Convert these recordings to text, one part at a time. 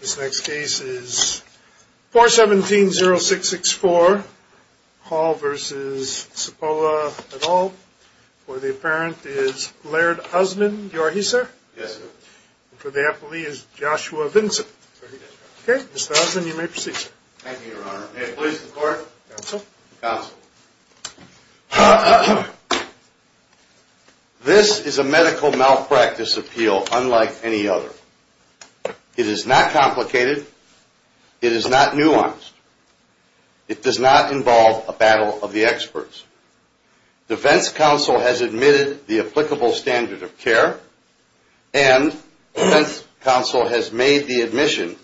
This next case is 417-0664, Hall v. Cipolla et al. For the apparent is Laird Osmond. You are he, sir? Yes, sir. And for the appellee is Joshua Vinson. Sir, he is. Okay, Mr. Osmond, you may proceed, sir. Thank you, Your Honor. May it please the Court? Counsel. Counsel. This is a medical malpractice appeal unlike any other. It is not complicated. It is not nuanced. It does not involve a battle of the experts. Defense counsel has admitted the applicable standard of care, and defense counsel has made the admission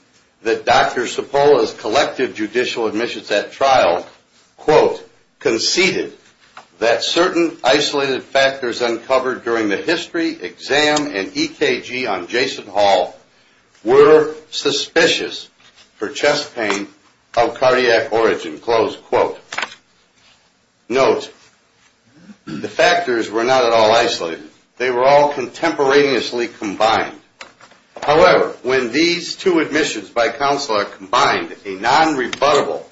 that Dr. Cipolla's collective judicial admissions at trial, quote, conceded that certain isolated factors uncovered during the history exam and EKG on Jason Hall were suspicious for chest pain of cardiac origin, close quote. Note, the factors were not at all isolated. They were all contemporaneously combined. However, when these two admissions by counsel are combined, a non-rebuttable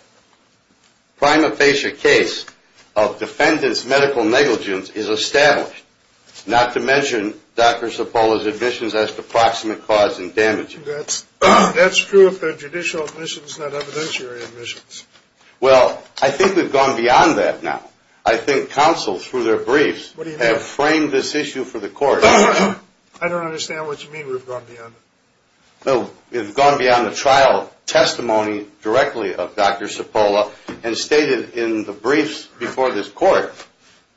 prima facie case of defendant's medical negligence is established, not to mention Dr. Cipolla's admissions as to proximate cause and damages. That's true if they're judicial admissions, not evidentiary admissions. Well, I think we've gone beyond that now. I think counsel, through their briefs, have framed this issue for the Court. I don't understand what you mean we've gone beyond it. We've gone beyond the trial testimony directly of Dr. Cipolla and stated in the briefs before this Court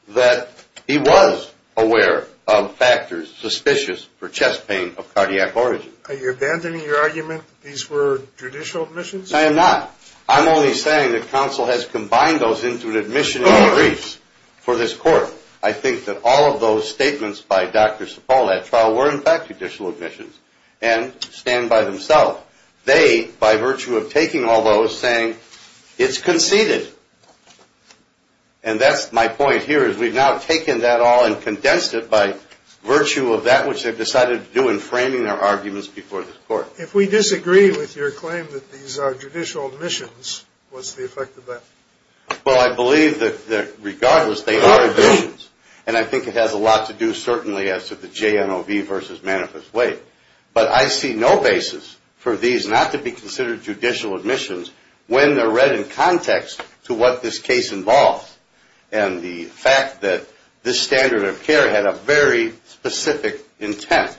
that he was aware of factors suspicious for chest pain of cardiac origin. Are you abandoning your argument that these were judicial admissions? I am not. I'm only saying that counsel has combined those into an admission in the briefs for this Court. I think that all of those statements by Dr. Cipolla at trial were in fact judicial admissions and stand by themselves. They, by virtue of taking all those, saying it's conceded. And that's my point here is we've now taken that all and condensed it by virtue of that which they've decided to do in framing their arguments before this Court. If we disagree with your claim that these are judicial admissions, what's the effect of that? Well, I believe that regardless they are admissions. And I think it has a lot to do certainly as to the JNOV versus manifest weight. But I see no basis for these not to be considered judicial admissions when they're read in context to what this case involves. And the fact that this standard of care had a very specific intent.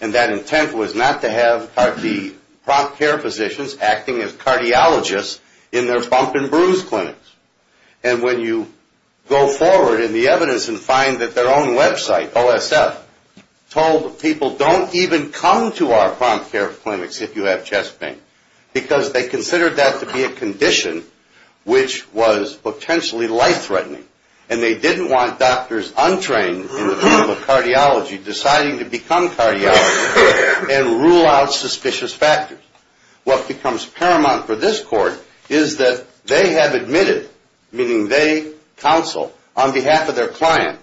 And that intent was not to have the prompt care physicians acting as cardiologists in their bump and bruise clinics. And when you go forward in the evidence and find that their own website, OSF, told people don't even come to our prompt care clinics if you have chest pain. Because they considered that to be a condition which was potentially life-threatening. And they didn't want doctors untrained in the field of cardiology deciding to become cardiologists and rule out suspicious factors. What becomes paramount for this Court is that they have admitted, meaning they counsel on behalf of their client,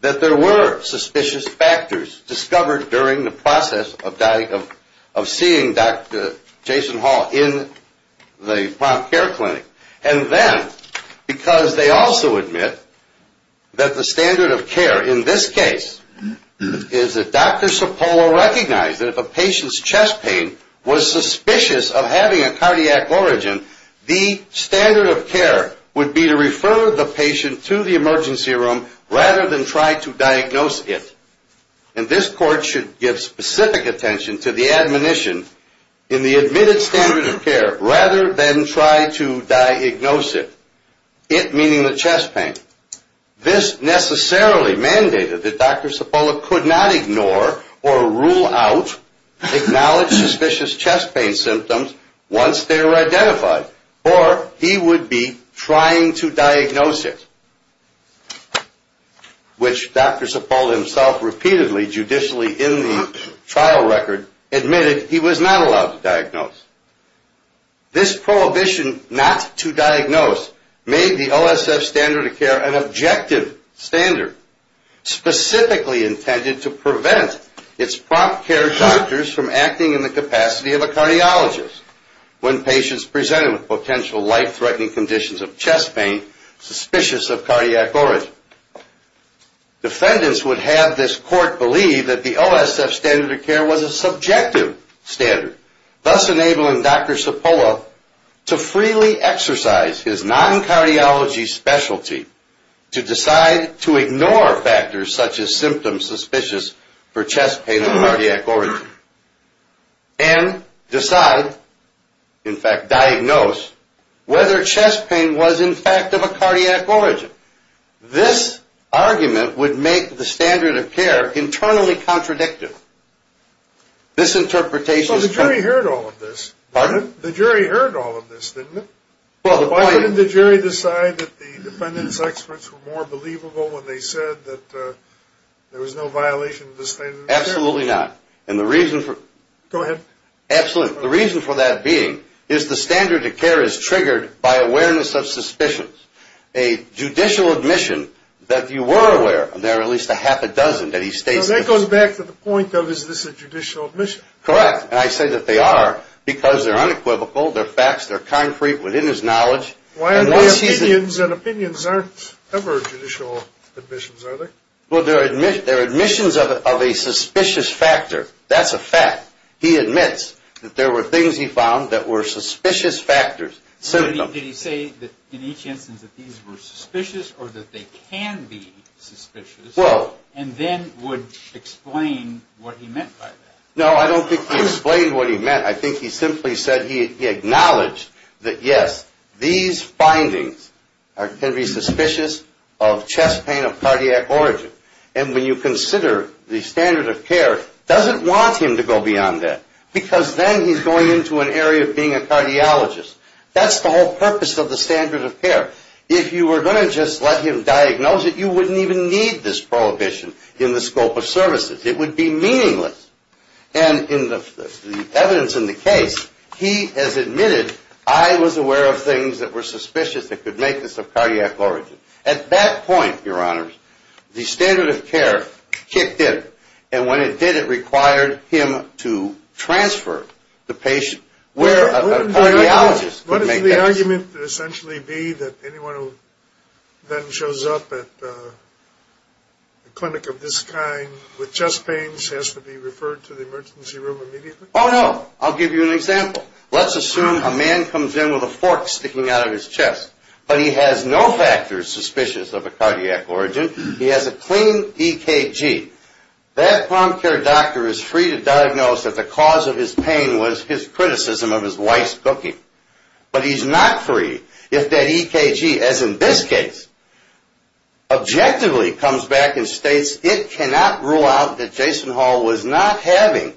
that there were suspicious factors discovered during the process of seeing Dr. Jason Hall in the prompt care clinic. And then because they also admit that the standard of care in this case is that Dr. Cipolla recognized that if a patient's chest pain was suspicious of having a cardiac origin, the standard of care would be to refer the patient to the emergency room rather than try to diagnose it. And this Court should give specific attention to the admonition in the admitted standard of care rather than try to diagnose it. It meaning the chest pain. This necessarily mandated that Dr. Cipolla could not ignore or rule out, acknowledge suspicious chest pain symptoms once they were identified. Or he would be trying to diagnose it. Which Dr. Cipolla himself repeatedly, judicially in the trial record, admitted he was not allowed to diagnose. This prohibition not to diagnose made the OSF standard of care an objective standard, specifically intended to prevent its prompt care doctors from acting in the capacity of a cardiologist when patients presented with potential life-threatening conditions of chest pain suspicious of cardiac origin. Defendants would have this Court believe that the OSF standard of care was a subjective standard, thus enabling Dr. Cipolla to freely exercise his non-cardiology specialty to decide to ignore factors such as symptoms suspicious for chest pain of cardiac origin and decide, in fact diagnose, whether chest pain was in fact of a cardiac origin. This argument would make the standard of care internally contradictive. So the jury heard all of this, didn't it? Why didn't the jury decide that the defendants' experts were more believable when they said there was no violation of the standard of care? Absolutely not. The reason for that being is the standard of care is triggered by awareness of suspicions. A judicial admission that you were aware, and there are at least a half a dozen that he states this. That goes back to the point of, is this a judicial admission? Correct, and I say that they are because they're unequivocal, they're facts, they're concrete within his knowledge. Why are the opinions, and opinions aren't ever judicial admissions, are they? Well, they're admissions of a suspicious factor. That's a fact. He admits that there were things he found that were suspicious factors. Did he say that in each instance that these were suspicious, or that they can be suspicious, and then would explain what he meant by that? No, I don't think he explained what he meant. I think he simply said he acknowledged that, yes, these findings can be suspicious of chest pain of cardiac origin. And when you consider the standard of care doesn't want him to go beyond that, because then he's going into an area of being a cardiologist. That's the whole purpose of the standard of care. If you were going to just let him diagnose it, you wouldn't even need this prohibition in the scope of services. It would be meaningless. And in the evidence in the case, he has admitted, I was aware of things that were suspicious that could make this of cardiac origin. At that point, Your Honors, the standard of care kicked in. And when it did, it required him to transfer the patient where a cardiologist could make that decision. Wouldn't the argument essentially be that anyone who then shows up at a clinic of this kind with chest pains has to be referred to a cardiologist? Oh, no. I'll give you an example. Let's assume a man comes in with a fork sticking out of his chest. But he has no factors suspicious of a cardiac origin. He has a clean EKG. That palm care doctor is free to diagnose that the cause of his pain was his criticism of his wife's cooking. But he's not free if that EKG, as in this case, objectively comes back and states, it cannot rule out that Jason Hall was not having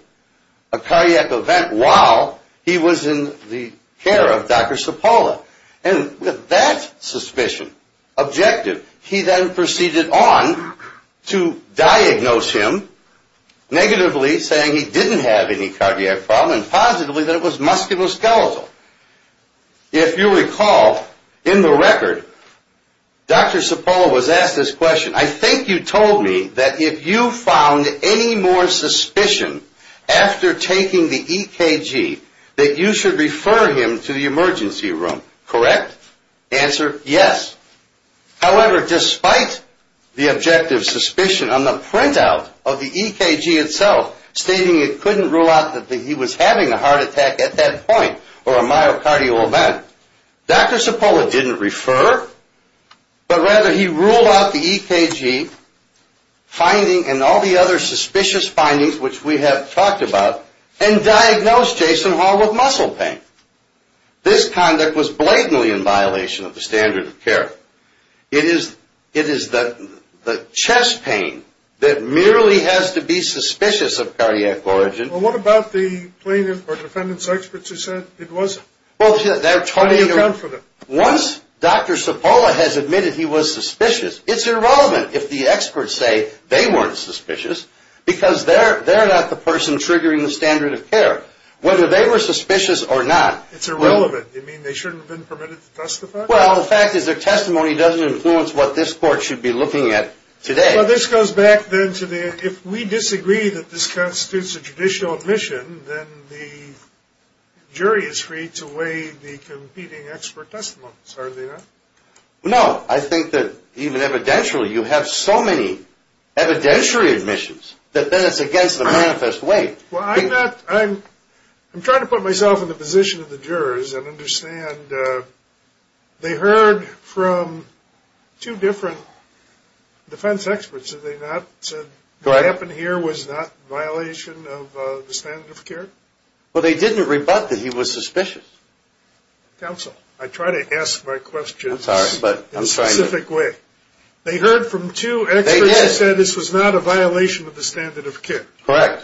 a cardiac event while he was in the care of Dr. Cipolla. And with that suspicion objective, he then proceeded on to diagnose him, negatively saying he didn't have any cardiac problem, and positively that it was musculoskeletal. If you recall, in the record, Dr. Cipolla was asked this question, I think you told me that if you found any more suspicion after taking the EKG, that you should refer him to the emergency room, correct? Answer, yes. However, despite the objective suspicion on the printout of the EKG itself, stating it couldn't rule out that he was having a heart attack at that point or a myocardial event, Dr. Cipolla didn't refer, but rather he ruled out the EKG finding and all the other suspicious findings which we have talked about, and diagnosed Jason Hall with muscle pain. This conduct was blatantly in violation of the standard of care. It is the chest pain that merely has to be suspicious of cardiac origin. Well, what about the plaintiff or defendant's experts who said it wasn't? Once Dr. Cipolla has admitted he was suspicious, it's irrelevant if the experts say they weren't suspicious, because they're not the person triggering the standard of care. Whether they were suspicious or not, it's irrelevant. You mean they shouldn't have been permitted to testify? Well, the fact is their testimony doesn't influence what this court should be looking at today. Well, this goes back then to the, if we disagree that this constitutes a judicial admission, then the jury is free to weigh the competing expert testimonies, are they not? No, I think that even evidentially you have so many evidentiary admissions that then it's against the manifest way. Well, I'm not, I'm trying to put myself in the position of the jurors and understand they heard from two different defense experts. Did they not say what happened here was not a violation of the standard of care? Well, they didn't rebut that he was suspicious. Counsel, I try to ask my questions in a specific way. They heard from two experts who said this was not a violation of the standard of care. Correct.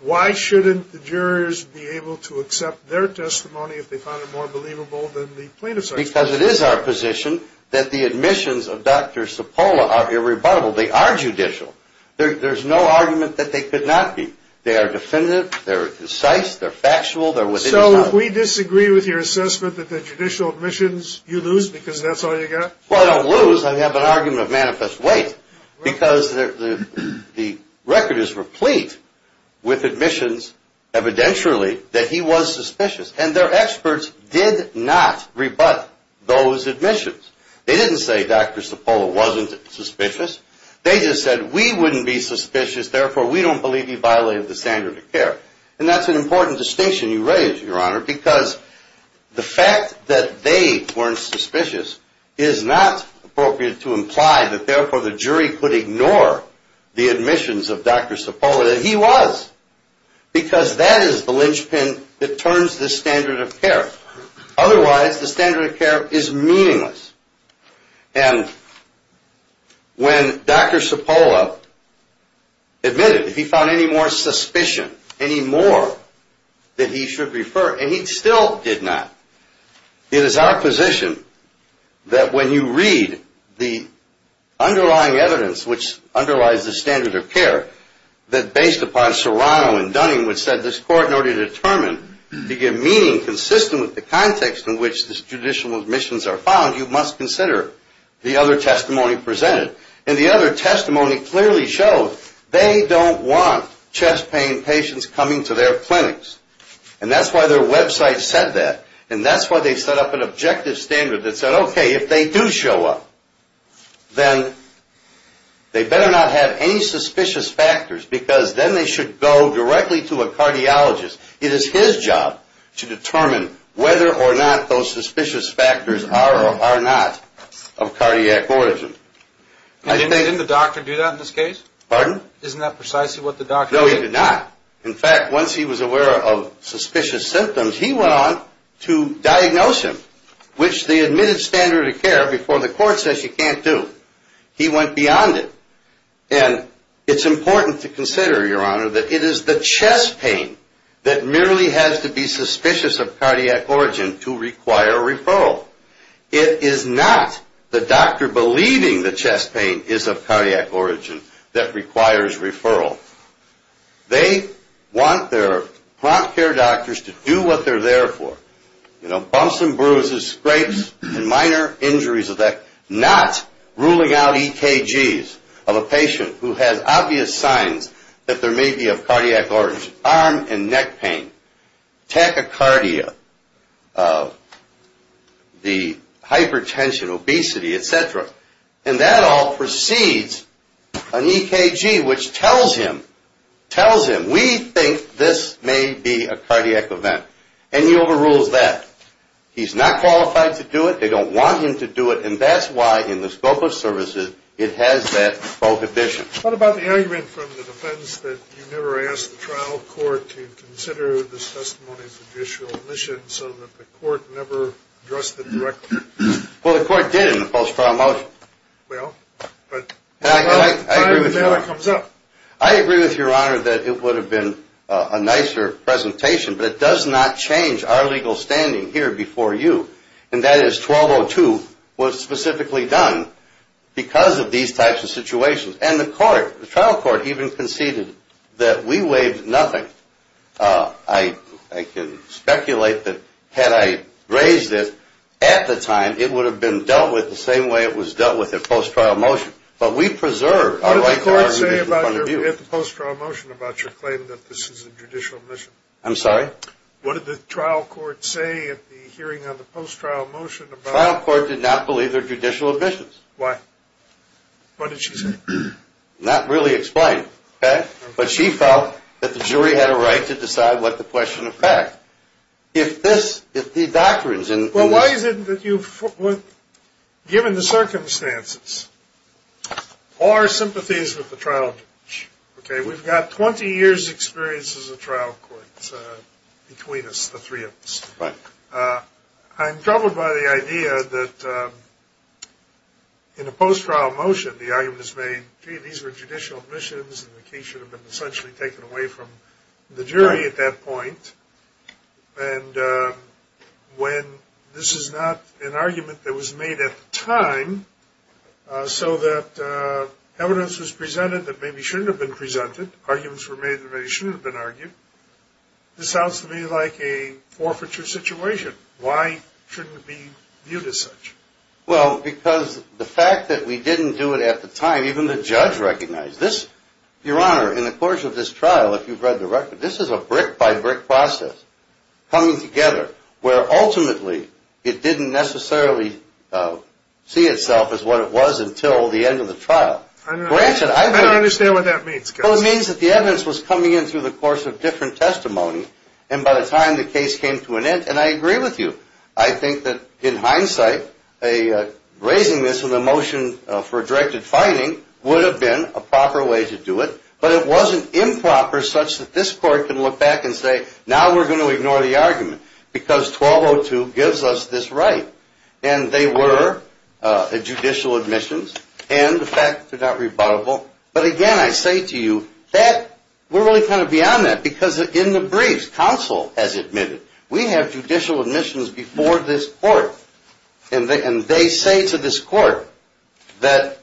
Why shouldn't the jurors be able to accept their testimony if they found it more believable than the plaintiff's argument? Because it is our position that the admissions of Dr. Cipolla are irrebuttable. They are judicial. There's no argument that they could not be. They are definitive, they're concise, they're factual, they're within the law. Counsel, can we disagree with your assessment that the judicial admissions, you lose because that's all you got? Well, I don't lose. I have an argument of manifest weight because the record is replete with admissions evidentially that he was suspicious, and their experts did not rebut those admissions. They didn't say Dr. Cipolla wasn't suspicious. They just said we wouldn't be suspicious, therefore we don't believe he violated the standard of care. And that's an important distinction you raise, Your Honor, because the fact that they weren't suspicious is not appropriate to imply that therefore the jury could ignore the admissions of Dr. Cipolla that he was because that is the linchpin that turns the standard of care. Otherwise, the standard of care is meaningless. And when Dr. Cipolla admitted he found any more suspicion, any more that he should refer, and he still did not, it is our position that when you read the underlying evidence, which underlies the standard of care, that based upon Serrano and Dunning, which said this court in order to determine, to give meaning consistent with the context in which the judicial admissions are found, you must consider the other testimony presented. And the other testimony clearly showed they don't want chest pain patients coming to their clinics. And that's why their website said that. And that's why they set up an objective standard that said, okay, if they do show up, then they better not have any suspicious factors because then they should go directly to a cardiologist. It is his job to determine whether or not those suspicious factors are or are not of cardiac origin. Didn't the doctor do that in this case? Pardon? Isn't that precisely what the doctor did? No, he did not. In fact, once he was aware of suspicious symptoms, he went on to diagnose him, which they admitted standard of care before the court says you can't do. He went beyond it. And it's important to consider, Your Honor, that it is the chest pain that merely has to be suspicious of cardiac origin to require a referral. It is not the doctor believing the chest pain is of cardiac origin that requires referral. They want their prompt care doctors to do what they're there for, you know, bumps and bruises, scrapes and minor injuries of that, not ruling out EKGs of a patient who has obvious signs that there may be of cardiac origin, arm and neck pain, tachycardia, the hypertension, obesity, et cetera. And that all precedes an EKG which tells him, tells him, we think this may be a cardiac event. And he overrules that. He's not qualified to do it. They don't want him to do it, and that's why in the scope of services, it has that vocation. What about the argument from the defense that you never asked the trial court to consider this testimony's judicial omission so that the court never addressed it directly? Well, the court did in the post-trial motion. Well, but time and data comes up. I agree with you, Your Honor, that it would have been a nicer presentation, but it does not change our legal standing here before you, and that is 1202 was specifically done because of these types of situations. And the court, the trial court, even conceded that we waived nothing. I can speculate that had I raised it at the time, it would have been dealt with the same way it was dealt with at post-trial motion. But we preserved our right to argument in front of you. What did the court say at the post-trial motion about your claim that this is a judicial omission? I'm sorry? What did the trial court say at the hearing on the post-trial motion about it? The trial court did not believe they're judicial omissions. Why? What did she say? Not really explained. But she felt that the jury had a right to decide what the question of fact. If this, if the doctrines in this. Well, why is it that you've, given the circumstances, all our sympathies with the trial judge, okay? We've got 20 years' experience as a trial court between us, the three of us. Right. I'm troubled by the idea that in a post-trial motion the argument is made, gee, these were judicial omissions, and the case should have been essentially taken away from the jury at that point. Right. And when this is not an argument that was made at the time, so that evidence was presented that maybe shouldn't have been presented, arguments were made that maybe shouldn't have been argued, this sounds to me like a forfeiture situation. Why shouldn't it be viewed as such? Well, because the fact that we didn't do it at the time, even the judge recognized this. Your Honor, in the course of this trial, if you've read the record, this is a brick-by-brick process coming together, where ultimately it didn't necessarily see itself as what it was until the end of the trial. I don't understand what that means. Well, it means that the evidence was coming in through the course of different testimony, and by the time the case came to an end, and I agree with you, I think that in hindsight raising this in the motion for directed finding would have been a proper way to do it, but it wasn't improper such that this court can look back and say, okay, now we're going to ignore the argument because 1202 gives us this right, and they were judicial admissions, and the fact that they're not rebuttable. But again, I say to you that we're really kind of beyond that because in the briefs, counsel has admitted, we have judicial admissions before this court, and they say to this court that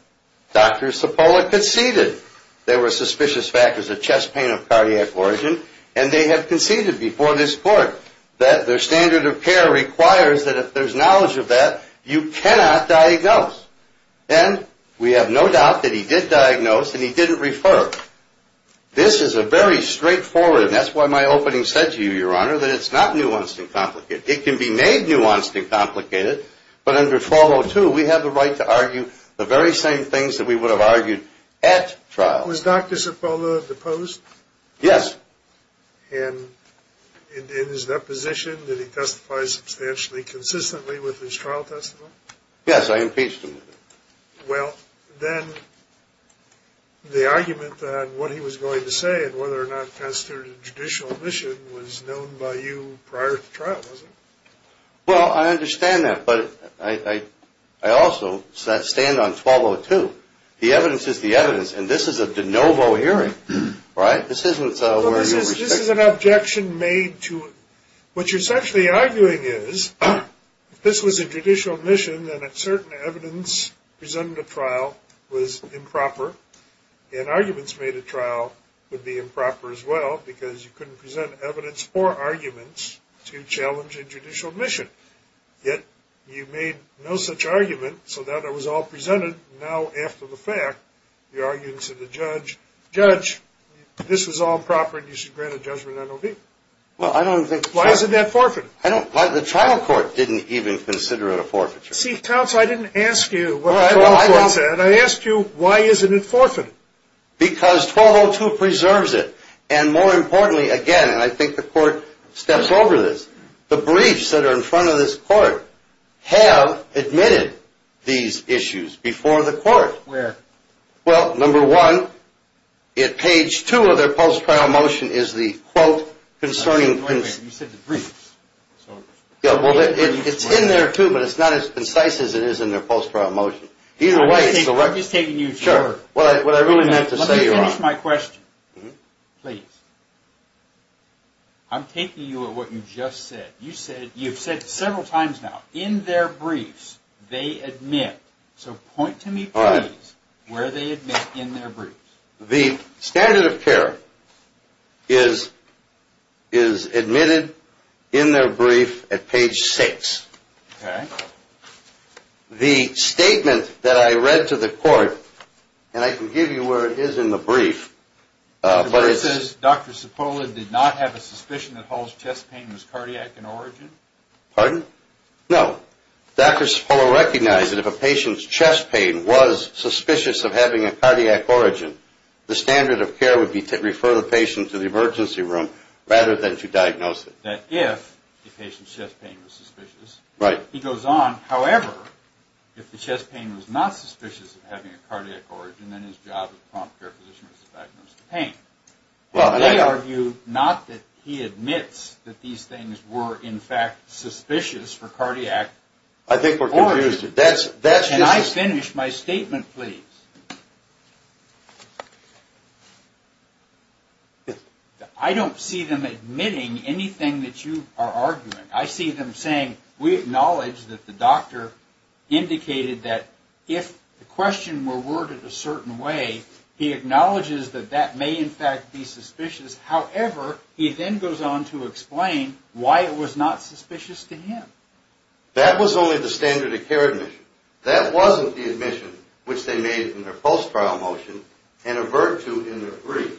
Dr. Cipolla conceded. There were suspicious factors of chest pain of cardiac origin, and they have conceded before this court that their standard of care requires that if there's knowledge of that, you cannot diagnose, and we have no doubt that he did diagnose and he didn't refer. This is a very straightforward, and that's why my opening said to you, Your Honor, that it's not nuanced and complicated. It can be made nuanced and complicated, but under 1202, we have the right to argue the very same things that we would have argued at trial. Was Dr. Cipolla deposed? Yes. And in his deposition, did he testify substantially consistently with his trial testimony? Yes, I impeached him. Well, then the argument that what he was going to say and whether or not it constituted judicial admission was known by you prior to trial, was it? Well, I understand that, but I also stand on 1202. The evidence is the evidence, and this is a de novo hearing, right? This isn't where you'll restrict it. Well, this is an objection made to it. What you're essentially arguing is if this was a judicial admission, then a certain evidence presented at trial was improper, and arguments made at trial would be improper as well because you couldn't present evidence or arguments to challenge a judicial admission. Yet, you made no such argument, so that was all presented. Now, after the fact, you're arguing to the judge, Judge, this was all proper, and you should grant a judgment on OB. Well, I don't think so. Why isn't that forfeited? I don't, the trial court didn't even consider it a forfeiture. See, counsel, I didn't ask you what the trial court said. I asked you why isn't it forfeited. Because 1202 preserves it. And more importantly, again, and I think the court steps over this, the briefs that are in front of this court have admitted these issues before the court. Where? Well, number one, at page two of their post-trial motion is the quote concerning Wait a minute, you said the briefs. It's in there too, but it's not as concise as it is in their post-trial motion. Either way, it's the right I'm just taking you to Sure, what I really meant to say Let me finish my question, please. I'm taking you at what you just said. You've said several times now, in their briefs, they admit. So point to me, please, where they admit in their briefs. The standard of care is admitted in their brief at page six. The statement that I read to the court, and I can give you where it is in the brief. The court says Dr. Cipolla did not have a suspicion that Hall's chest pain was cardiac in origin? Pardon? No. Dr. Cipolla recognized that if a patient's chest pain was suspicious of having a cardiac origin, the standard of care would be to refer the patient to the emergency room rather than to diagnose it. That if the patient's chest pain was suspicious, he goes on. However, if the chest pain was not suspicious of having a cardiac origin, then his job as a prompt care physician was to diagnose the pain. They argue not that he admits that these things were in fact suspicious for cardiac origin. I think we're confused. Can I finish my statement, please? Yes. I don't see them admitting anything that you are arguing. I see them saying we acknowledge that the doctor indicated that if the question were worded a certain way, he acknowledges that that may in fact be suspicious. However, he then goes on to explain why it was not suspicious to him. That was only the standard of care admission. That wasn't the admission which they made in their post-trial motion and avert to in their brief.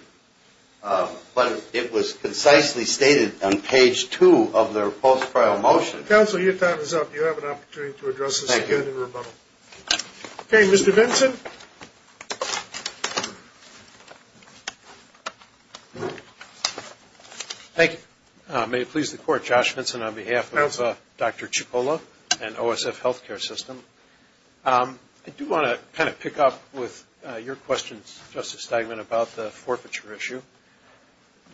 But it was concisely stated on page two of their post-trial motion. Counsel, your time is up. You have an opportunity to address this again in rebuttal. Thank you. Okay, Mr. Vinson? Thank you. May it please the Court, Josh Vinson on behalf of Dr. Cipolla and OSF Healthcare System. I do want to kind of pick up with your questions, Justice Steigman, about the forfeiture issue.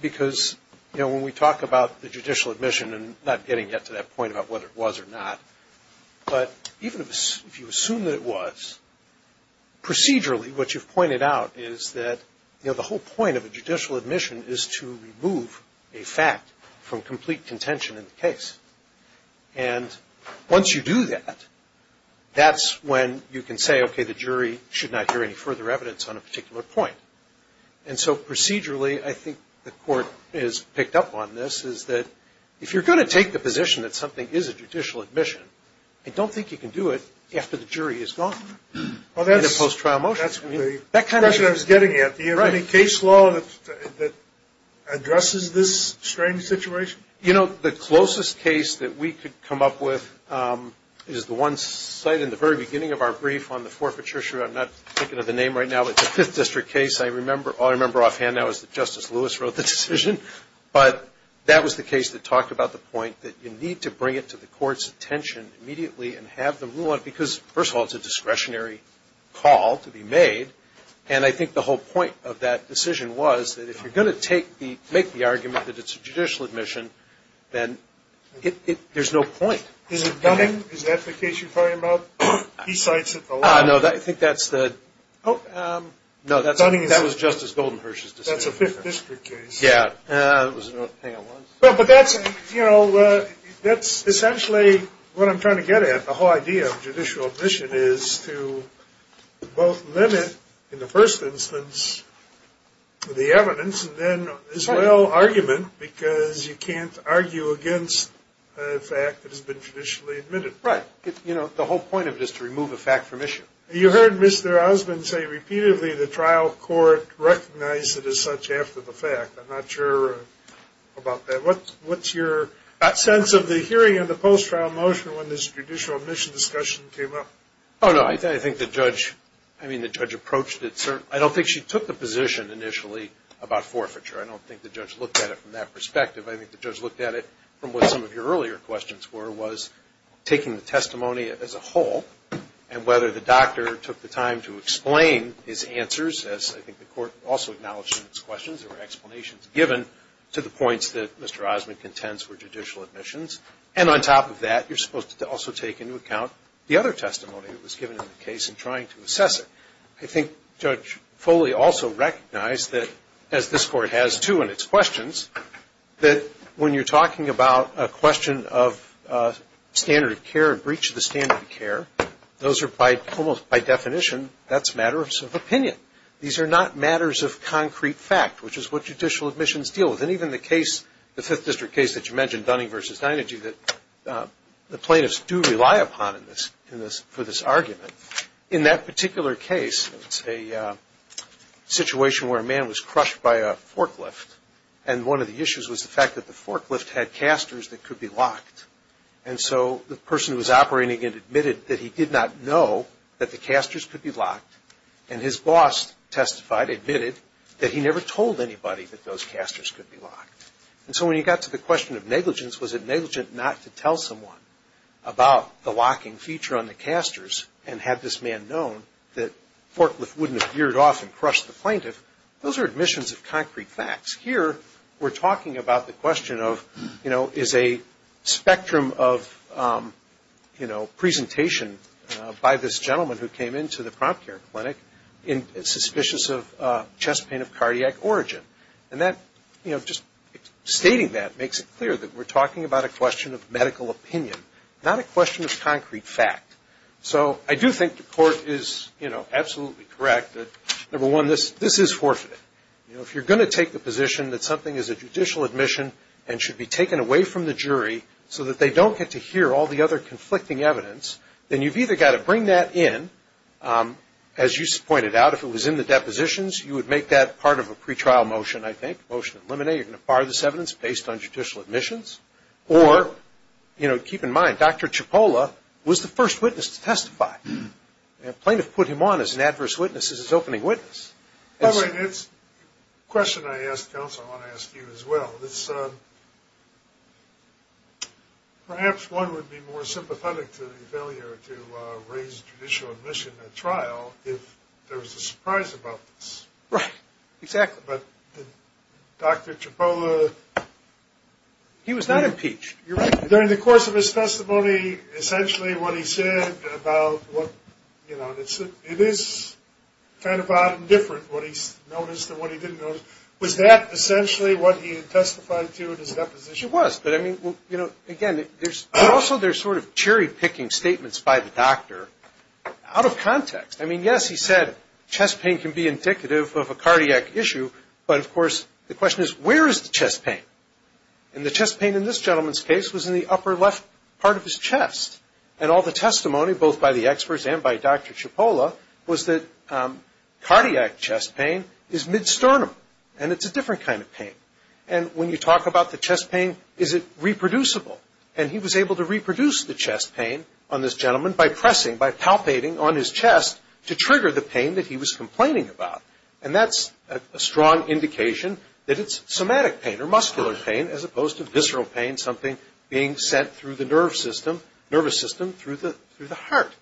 Because, you know, when we talk about the judicial admission and not getting yet to that point about whether it was or not, but even if you assume that it was, procedurally what you've pointed out is that, you know, the whole point of a judicial admission is to remove a fact from complete contention in the case. And once you do that, that's when you can say, okay, the jury should not hear any further evidence on a particular point. And so procedurally, I think the Court has picked up on this, is that if you're going to take the position that something is a judicial admission, I don't think you can do it after the jury is gone in the post-trial motion. That's the question I was getting at. Do you have any case law that addresses this strange situation? You know, the closest case that we could come up with is the one cited in the very beginning of our brief on the forfeiture issue. I'm not thinking of the name right now, but it's a Fifth District case. All I remember offhand now is that Justice Lewis wrote the decision. But that was the case that talked about the point that you need to bring it to the Court's attention immediately and have them rule on it because, first of all, it's a discretionary call to be made. And I think the whole point of that decision was that if you're going to make the argument that it's a judicial admission, then there's no point. Is it Dunning? Is that the case you're talking about? He cites it a lot. No, I think that's the – no, that was Justice Goldenherz's decision. That's a Fifth District case. Yeah. But that's, you know, that's essentially what I'm trying to get at. The whole idea of judicial admission is to both limit, in the first instance, the evidence, and then, as well, argument because you can't argue against a fact that has been traditionally admitted. Right. You know, the whole point of it is to remove a fact from issue. You heard Mr. Osmond say repeatedly the trial court recognized it as such after the fact. I'm not sure about that. What's your sense of the hearing of the post-trial motion when this judicial admission discussion came up? Oh, no, I think the judge – I mean, the judge approached it – I don't think she took the position initially about forfeiture. I don't think the judge looked at it from that perspective. I think the judge looked at it from what some of your earlier questions were, was taking the testimony as a whole and whether the doctor took the time to explain his answers, as I think the court also acknowledged in its questions. There were explanations given to the points that Mr. Osmond contends were judicial admissions. And on top of that, you're supposed to also take into account the other testimony that was given in the case in trying to assess it. I think Judge Foley also recognized that, as this court has too in its questions, that when you're talking about a question of standard of care and breach of the standard of care, those are by definition, that's matters of opinion. These are not matters of concrete fact, which is what judicial admissions deal with. And even the case, the Fifth District case that you mentioned, Dunning v. Deinergy, that the plaintiffs do rely upon for this argument. In that particular case, it's a situation where a man was crushed by a forklift, and one of the issues was the fact that the forklift had casters that could be locked. And so the person who was operating it admitted that he did not know that the casters could be locked, and his boss testified, admitted, that he never told anybody that those casters could be locked. And so when you got to the question of negligence, was it negligent not to tell someone about the locking feature on the casters, and had this man known that the forklift wouldn't have veered off and crushed the plaintiff, those are admissions of concrete facts. Here we're talking about the question of, you know, is a spectrum of, you know, presentation by this gentleman who came into the prompt care clinic suspicious of chest pain of cardiac origin. And that, you know, just stating that makes it clear that we're talking about a question of medical opinion, not a question of concrete fact. So I do think the court is, you know, absolutely correct that, number one, this is forfeited. You know, if you're going to take the position that something is a judicial admission and should be taken away from the jury so that they don't get to hear all the other conflicting evidence, then you've either got to bring that in, as you pointed out, if it was in the depositions, you would make that part of a pretrial motion, I think, motion to eliminate. You're going to fire this evidence based on judicial admissions. Or, you know, keep in mind, Dr. Cipolla was the first witness to testify. A plaintiff put him on as an adverse witness as his opening witness. All right. It's a question I asked counsel I want to ask you as well. Perhaps one would be more sympathetic to the failure to raise judicial admission at trial if there was a surprise about this. Right. Exactly. But did Dr. Cipolla? He was not impeached. You're right. During the course of his testimony, essentially what he said about what, you know, it is kind of odd and different what he noticed and what he didn't notice. Was that essentially what he had testified to in his deposition? It was. But, I mean, you know, again, also there's sort of cherry-picking statements by the doctor out of context. I mean, yes, he said chest pain can be indicative of a cardiac issue. But, of course, the question is where is the chest pain? And the chest pain in this gentleman's case was in the upper left part of his chest. And all the testimony, both by the experts and by Dr. Cipolla, was that cardiac chest pain is mid-sternum, and it's a different kind of pain. And when you talk about the chest pain, is it reproducible? And he was able to reproduce the chest pain on this gentleman by pressing, by palpating on his chest to trigger the pain that he was complaining about. And that's a strong indication that it's somatic pain or muscular pain as opposed to visceral pain, something being sent through the nervous system through the heart.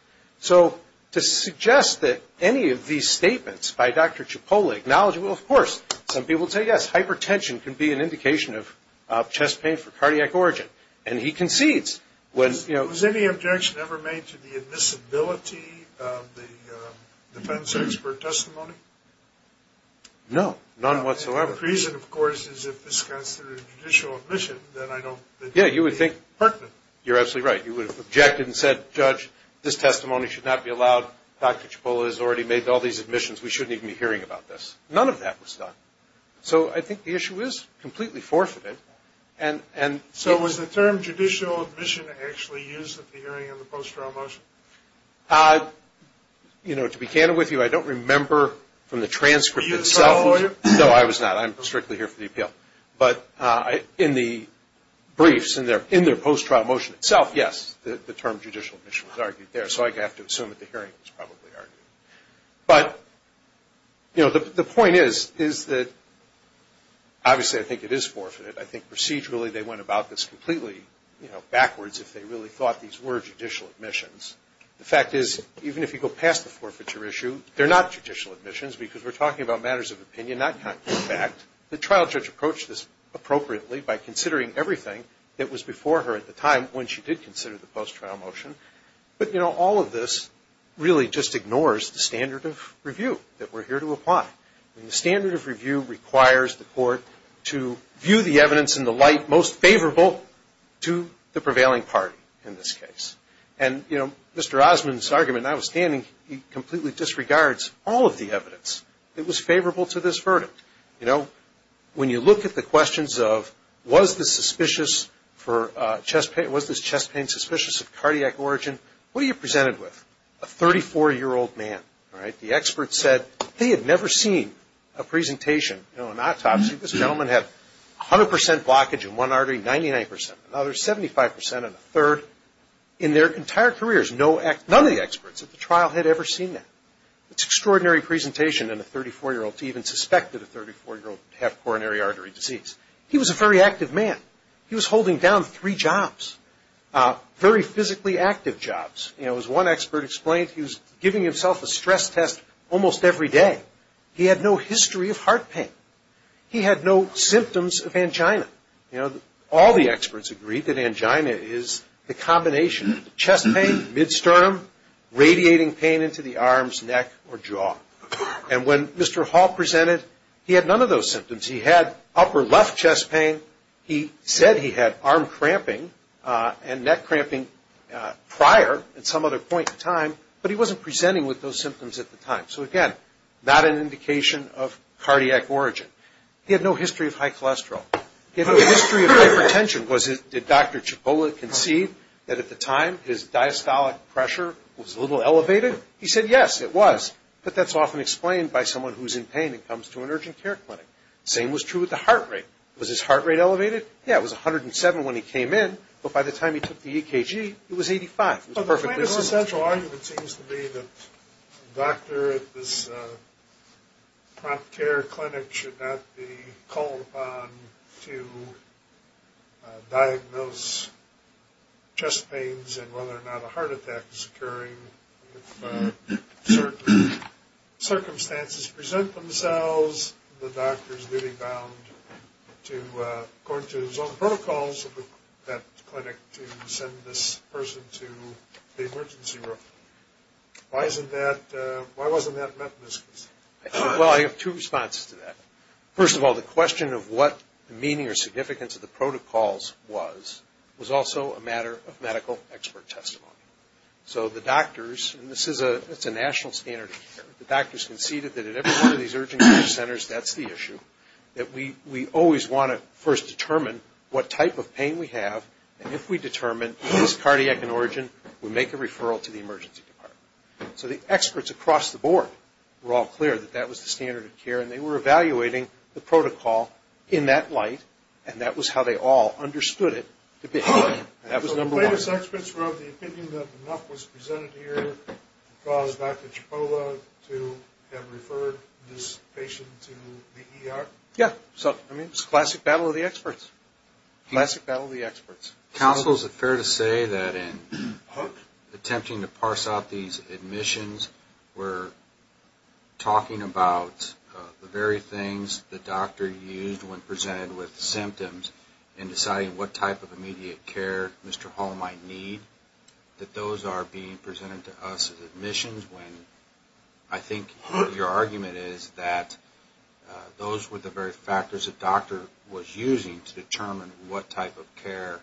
So to suggest that any of these statements by Dr. Cipolla acknowledge, well, of course, some people say, yes, hypertension can be an indication of chest pain for cardiac origin. And he concedes. Was any objection ever made to the admissibility of the defense expert testimony? No, none whatsoever. The reason, of course, is if this comes through a judicial admission, then I don't think it would be pertinent. You're absolutely right. You would have objected and said, judge, this testimony should not be allowed. Dr. Cipolla has already made all these admissions. We shouldn't even be hearing about this. None of that was done. So I think the issue is completely forfeited. So was the term judicial admission actually used at the hearing of the post-trial motion? You know, to be candid with you, I don't remember from the transcript itself. Were you the trial lawyer? No, I was not. I'm strictly here for the appeal. But in the briefs, in their post-trial motion itself, yes, the term judicial admission was argued there. So I have to assume that the hearing was probably argued. But, you know, the point is, is that obviously I think it is forfeited. I think procedurally they went about this completely, you know, backwards if they really thought these were judicial admissions. The fact is, even if you go past the forfeiture issue, they're not judicial admissions because we're talking about matters of opinion, not concrete fact. The trial judge approached this appropriately by considering everything that was before her at the time when she did consider the post-trial motion. But, you know, all of this really just ignores the standard of review that we're here to apply. The standard of review requires the court to view the evidence in the light most favorable to the prevailing party in this case. And, you know, Mr. Osmond's argument, notwithstanding, he completely disregards all of the evidence that was favorable to this verdict. You know, when you look at the questions of was this chest pain suspicious of cardiac origin, what are you presented with? A 34-year-old man, all right? The expert said they had never seen a presentation, you know, an autopsy. This gentleman had 100 percent blockage in one artery, 99 percent, another 75 percent, and a third. In their entire careers, none of the experts at the trial had ever seen that. It's an extraordinary presentation in a 34-year-old to even suspect that a 34-year-old had coronary artery disease. He was a very active man. He was holding down three jobs, very physically active jobs. You know, as one expert explained, he was giving himself a stress test almost every day. He had no history of heart pain. He had no symptoms of angina. You know, all the experts agreed that angina is the combination of chest pain, mid-sternum, radiating pain into the arms, neck, or jaw. And when Mr. Hall presented, he had none of those symptoms. He had upper left chest pain. He said he had arm cramping and neck cramping prior at some other point in time, but he wasn't presenting with those symptoms at the time. So, again, not an indication of cardiac origin. He had no history of high cholesterol. He had no history of hypertension. Did Dr. Cipolla conceive that at the time his diastolic pressure was a little elevated? He said yes, it was, but that's often explained by someone who's in pain and comes to an urgent care clinic. The same was true with the heart rate. Was his heart rate elevated? Yeah, it was 107 when he came in, but by the time he took the EKG, it was 85. Well, the plain and essential argument seems to be that a doctor at this prompt care clinic should not be called upon to diagnose chest pains and whether or not a heart attack is occurring if certain circumstances present themselves. Why was the doctor's duty bound to, according to his own protocols at that clinic, to send this person to the emergency room? Why wasn't that met in this case? Well, I have two responses to that. First of all, the question of what the meaning or significance of the protocols was was also a matter of medical expert testimony. So the doctors, and this is a national standard of care, the doctors conceded that at every one of these urgent care centers, that's the issue, that we always want to first determine what type of pain we have, and if we determine, is this cardiac in origin, we make a referral to the emergency department. So the experts across the board were all clear that that was the standard of care, and they were evaluating the protocol in that light, and that was how they all understood it to begin with. So the latest experts wrote the opinion that enough was presented here to cause Dr. Cipolla to have referred this patient to the ER? Yeah, so it's a classic battle of the experts. Classic battle of the experts. Counsel, is it fair to say that in attempting to parse out these admissions, we're talking about the very things the doctor used when presented with symptoms in deciding what type of immediate care Mr. Hall might need, that those are being presented to us as admissions, when I think your argument is that those were the very factors the doctor was using to determine what type of care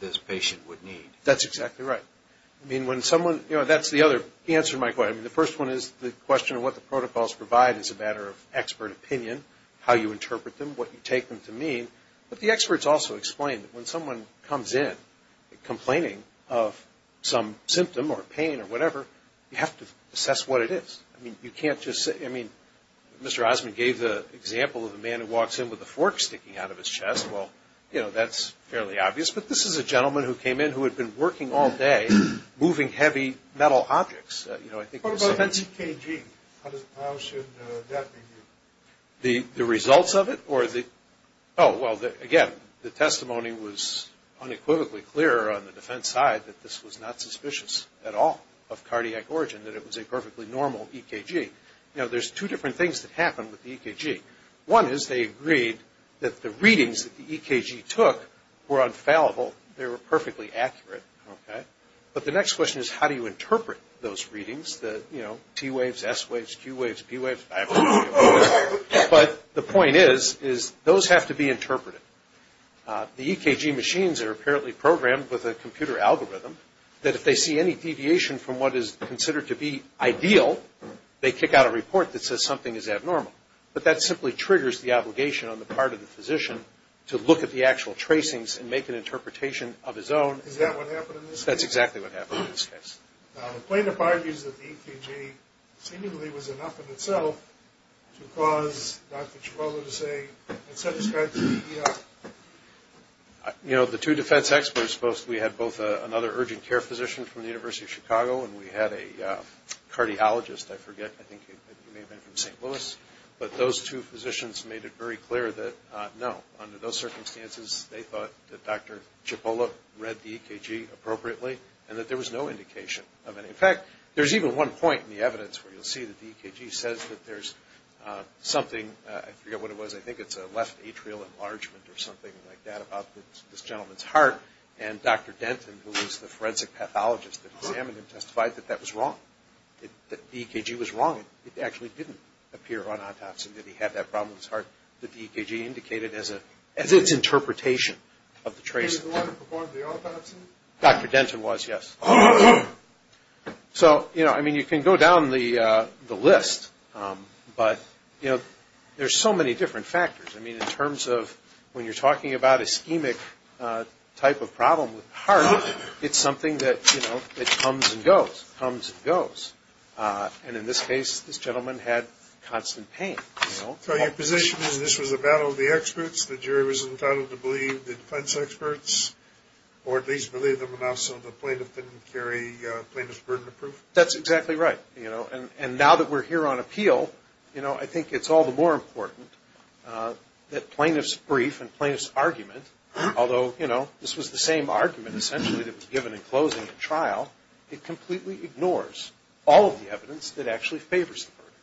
this patient would need? That's exactly right. I mean, when someone, you know, that's the other answer to my question. The first one is the question of what the protocols provide is a matter of expert opinion, how you interpret them, what you take them to mean. But the experts also explained that when someone comes in complaining of some symptom or pain or whatever, you have to assess what it is. I mean, you can't just say – I mean, Mr. Osmond gave the example of a man who walks in with a fork sticking out of his chest. Well, you know, that's fairly obvious. But this is a gentleman who came in who had been working all day moving heavy metal objects. What about EKG? How should that be viewed? The results of it or the – oh, well, again, the testimony was unequivocally clear on the defense side that this was not suspicious at all of cardiac origin, that it was a perfectly normal EKG. You know, there's two different things that happened with the EKG. One is they agreed that the readings that the EKG took were unfallible, they were perfectly accurate. Okay? But the next question is how do you interpret those readings, the, you know, T waves, S waves, Q waves, P waves? But the point is, is those have to be interpreted. The EKG machines are apparently programmed with a computer algorithm that if they see any deviation from what is considered to be ideal, they kick out a report that says something is abnormal. But that simply triggers the obligation on the part of the physician to look at the actual tracings and make an interpretation of his own. Is that what happened in this case? That's exactly what happened in this case. Now, the plaintiff argues that the EKG seemingly was enough in itself to cause Dr. Chicago to say, let's have this guy to the ER. You know, the two defense experts, we had both another urgent care physician from the University of Chicago and we had a cardiologist, I forget, I think he may have been from St. Louis, but those two physicians made it very clear that no, under those circumstances, they thought that Dr. Chipola read the EKG appropriately and that there was no indication of any. In fact, there's even one point in the evidence where you'll see that the EKG says that there's something, I forget what it was, I think it's a left atrial enlargement or something like that about this gentleman's heart, and Dr. Denton, who was the forensic pathologist that examined him, testified that that was wrong, that the EKG was wrong. It actually didn't appear on autopsy that he had that problem with his heart. The EKG indicated as its interpretation of the trace. The one who performed the autopsy? Dr. Denton was, yes. So, you know, I mean, you can go down the list, but, you know, there's so many different factors. I mean, in terms of when you're talking about ischemic type of problem with heart, it's something that, you know, it comes and goes, comes and goes. And in this case, this gentleman had constant pain. So your position is this was a battle of the experts, the jury was entitled to believe the defense experts, or at least believe them enough so the plaintiff didn't carry plaintiff's burden of proof? That's exactly right. You know, and now that we're here on appeal, you know, I think it's all the more important that plaintiff's brief and plaintiff's argument, although, you know, this was the same argument essentially that was given in closing the trial,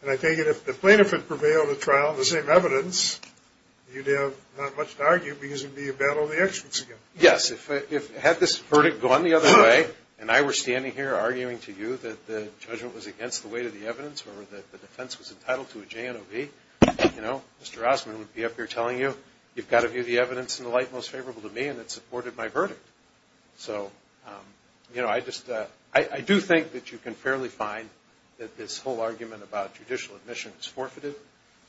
and I take it if the plaintiff had prevailed at trial on the same evidence, you'd have not much to argue because it would be a battle of the experts again. Yes. Had this verdict gone the other way and I were standing here arguing to you that the judgment was against the weight of the evidence or that the defense was entitled to a JNOB, you know, Mr. Rossman would be up here telling you, you've got to view the evidence in the light most favorable to me, and it supported my verdict. So, you know, I do think that you can fairly find that this whole argument about judicial admission is forfeited.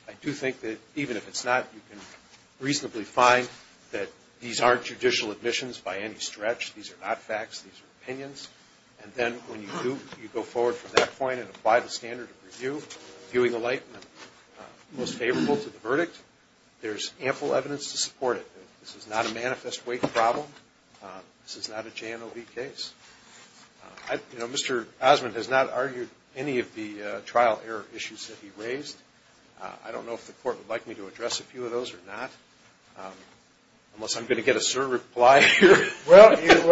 I do think that even if it's not, you can reasonably find that these aren't judicial admissions by any stretch. These are not facts. These are opinions. And then when you go forward from that point and apply the standard of review, viewing the light most favorable to the verdict, there's ample evidence to support it. This is not a manifest weight problem. This is not a JNOB case. You know, Mr. Osmond has not argued any of the trial error issues that he raised. I don't know if the court would like me to address a few of those or not, unless I'm going to get a sir reply here. Well, you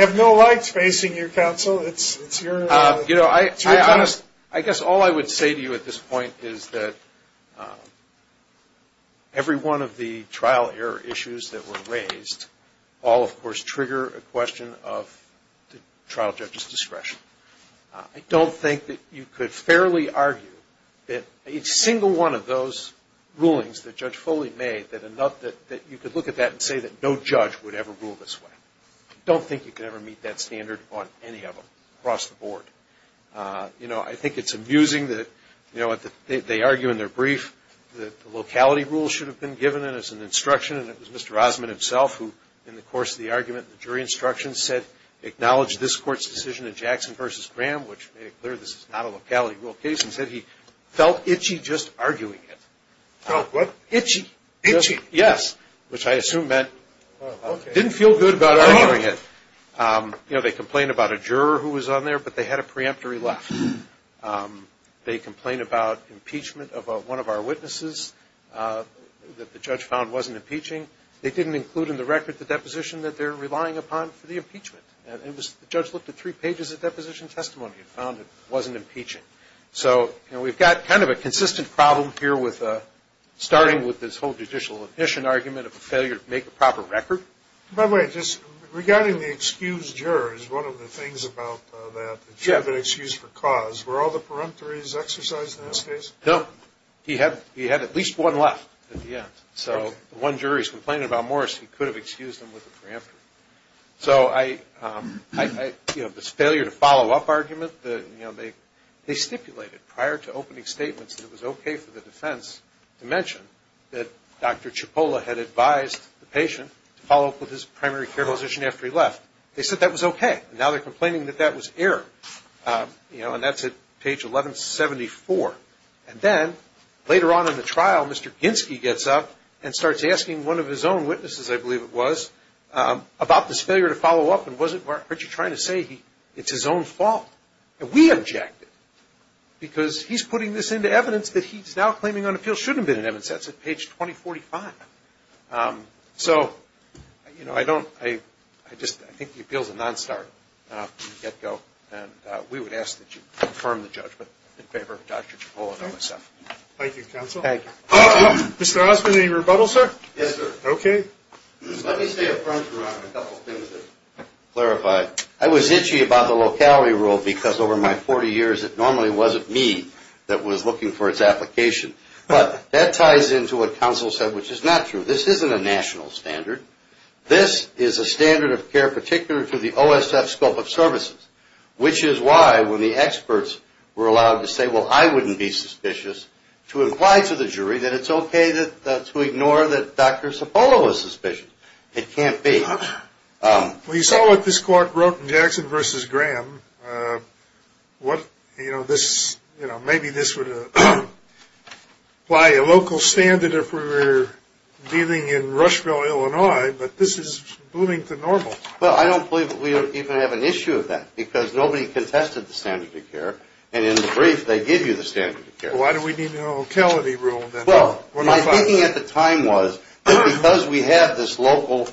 have no lights facing you, counsel. It's your turn. I guess all I would say to you at this point is that every one of the trial error issues that were raised all, of course, trigger a question of the trial judge's discretion. I don't think that you could fairly argue that each single one of those rulings that Judge Foley made, that you could look at that and say that no judge would ever rule this way. I don't think you could ever meet that standard on any of them across the board. You know, I think it's amusing that, you know, they argue in their brief that the locality rule should have been given as an instruction, and it was Mr. Osmond himself who, in the course of the argument, the jury instruction said, acknowledged this court's decision in Jackson v. Graham, which made it clear this is not a locality rule case, and said he felt itchy just arguing it. Felt what? Itchy. Itchy. Yes, which I assume meant didn't feel good about arguing it. You know, they complained about a juror who was on there, but they had a preemptory left. They complained about impeachment of one of our witnesses that the judge found wasn't impeaching. They didn't include in the record the deposition that they're relying upon for the impeachment. And the judge looked at three pages of deposition testimony and found it wasn't impeaching. So, you know, we've got kind of a consistent problem here with starting with this whole judicial admission argument of a failure to make a proper record. By the way, just regarding the excused jurors, one of the things about that, the juror being excused for cause, were all the preemptories exercised in this case? No. He had at least one left at the end. So the one juror he's complaining about more is he could have excused him with a preemptory. So, you know, this failure to follow up argument, you know, they stipulated prior to opening statements that it was okay for the defense to mention that Dr. Cipolla had advised the patient to follow up with his primary care physician after he left. They said that was okay. Now they're complaining that that was error. You know, and that's at page 1174. And then later on in the trial, Mr. Ginsky gets up and starts asking one of his own witnesses, I believe it was, about this failure to follow up and wasn't trying to say it's his own fault. And we objected. Because he's putting this into evidence that he's now claiming on appeal shouldn't have been in evidence. That's at page 2045. So, you know, I don't, I just, I think the appeal's a non-starter from the get-go. And we would ask that you confirm the judgment in favor of Dr. Cipolla and OSF. Thank you, counsel. Thank you. Mr. Osmond, any rebuttal, sir? Yes, sir. Okay. Let me say a few things to clarify. I was itchy about the locality rule because over my 40 years it normally wasn't me that was looking for its application. But that ties into what counsel said, which is not true. This isn't a national standard. This is a standard of care particular to the OSF scope of services, which is why when the experts were allowed to say, well, I wouldn't be suspicious, to imply to the jury that it's okay to ignore that Dr. Cipolla was suspicious. It can't be. Well, you saw what this court wrote in Jackson v. Graham. What, you know, this, you know, maybe this would apply a local standard if we were dealing in Rushville, Illinois. But this is blooming to normal. Well, I don't believe we even have an issue of that because nobody contested the standard of care. And in the brief, they give you the standard of care. Why do we need a locality rule then? Well, my thinking at the time was that because we have this local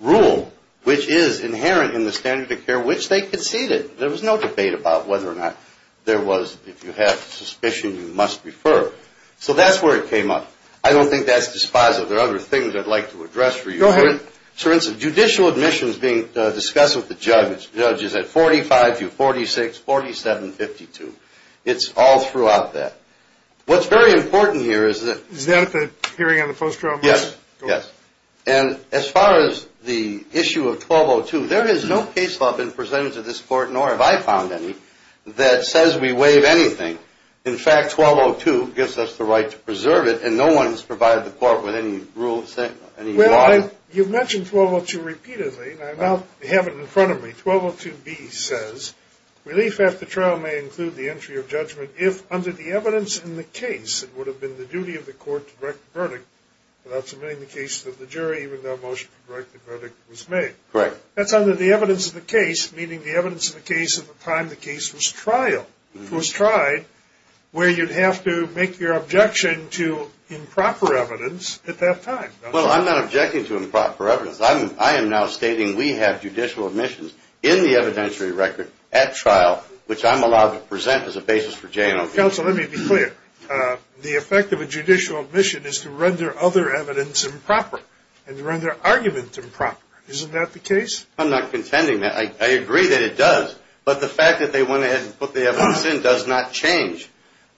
rule, which is inherent in the standard of care, which they conceded. There was no debate about whether or not there was, if you have suspicion, you must refer. So that's where it came up. I don't think that's dispositive. There are other things I'd like to address for you. Go ahead. Judicial admissions being discussed with the judges at 45 to 46, 47, 52. It's all throughout that. What's very important here is that. Is that the hearing on the post-trial measure? Yes, yes. And as far as the issue of 1202, there is no case law been presented to this court, nor have I found any, that says we waive anything. In fact, 1202 gives us the right to preserve it, and no one has provided the court with any rules, any law. Well, you've mentioned 1202 repeatedly, and I now have it in front of me. 1202B says, relief after trial may include the entry of judgment if, under the evidence in the case, it would have been the duty of the court to direct the verdict without submitting the case to the jury, even though a motion to direct the verdict was made. Correct. That's under the evidence of the case, meaning the evidence of the case at the time the case was tried, where you'd have to make your objection to improper evidence at that time. Well, I'm not objecting to improper evidence. I am now stating we have judicial admissions in the evidentiary record at trial, which I'm allowed to present as a basis for J&O cases. Counsel, let me be clear. The effect of a judicial admission is to render other evidence improper and to render arguments improper. Isn't that the case? I'm not contending that. I agree that it does, but the fact that they went ahead and put the evidence in does not change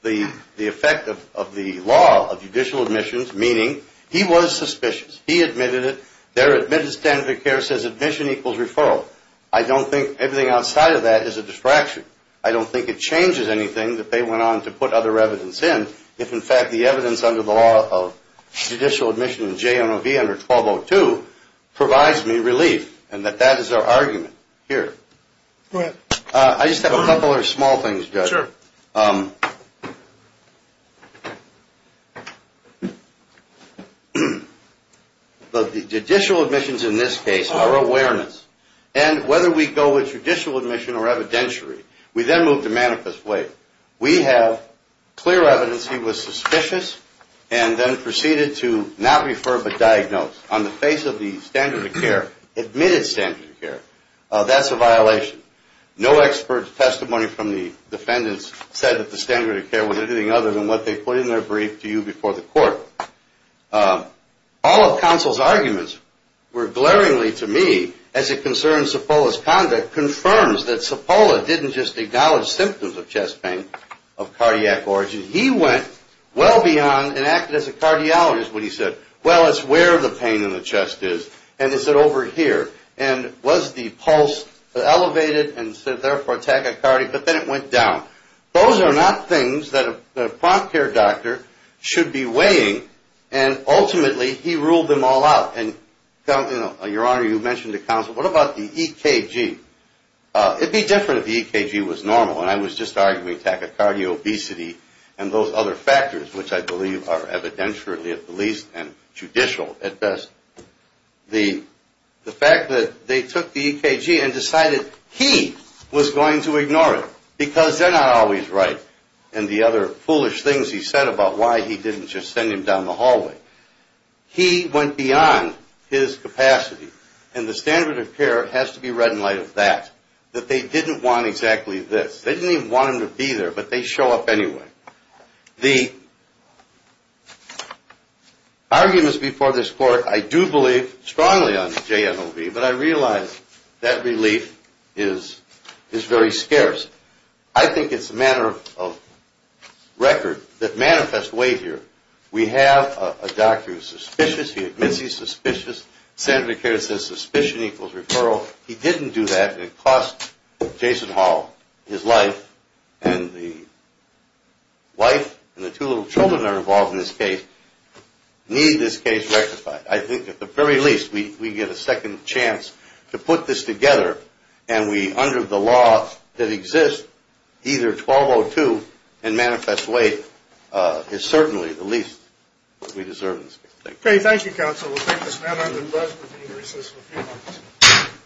the effect of the law, of judicial admissions, meaning he was suspicious. He admitted it. Their admitted standard of care says admission equals referral. I don't think everything outside of that is a distraction. I don't think it changes anything that they went on to put other evidence in if, in fact, the evidence under the law of judicial admission in J&O v. under 1202 provides me relief and that that is our argument here. Go ahead. Sure. The judicial admissions in this case are awareness. And whether we go with judicial admission or evidentiary, we then move to manifest weight. We have clear evidence he was suspicious and then proceeded to not refer but diagnose. On the face of the standard of care, admitted standard of care, that's a violation. No expert testimony from the defendants said that the standard of care was anything other than what they put in their brief to you before the court. All of counsel's arguments were glaringly to me, as it concerns Cipolla's conduct, confirms that Cipolla didn't just acknowledge symptoms of chest pain of cardiac origin. He went well beyond and acted as a cardiologist when he said, well, it's where the pain in the chest is and it's over here. And was the pulse elevated and said, therefore, tachycardia. But then it went down. Those are not things that a prompt care doctor should be weighing. And ultimately, he ruled them all out. And, Your Honor, you mentioned to counsel, what about the EKG? It would be different if the EKG was normal. And I was just arguing tachycardia, obesity, and those other factors, which I believe are evidentiary at the least and judicial at best. The fact that they took the EKG and decided he was going to ignore it because they're not always right. And the other foolish things he said about why he didn't just send him down the hallway. He went beyond his capacity. And the standard of care has to be read in light of that, that they didn't want exactly this. They didn't even want him to be there, but they show up anyway. The arguments before this court, I do believe strongly on JMOV, but I realize that relief is very scarce. I think it's a matter of record that manifests weight here. We have a doctor who's suspicious. He admits he's suspicious. The standard of care says suspicion equals referral. He didn't do that. It cost Jason Hall his life, and the wife and the two little children that are involved in this case need this case rectified. I think at the very least we get a second chance to put this together, and we, under the law that exists, either 1202 and manifest weight is certainly the least we deserve in this case. Thank you. Okay. Thank you, counsel. We'll take this matter to the press. We'll be in recess for a few moments.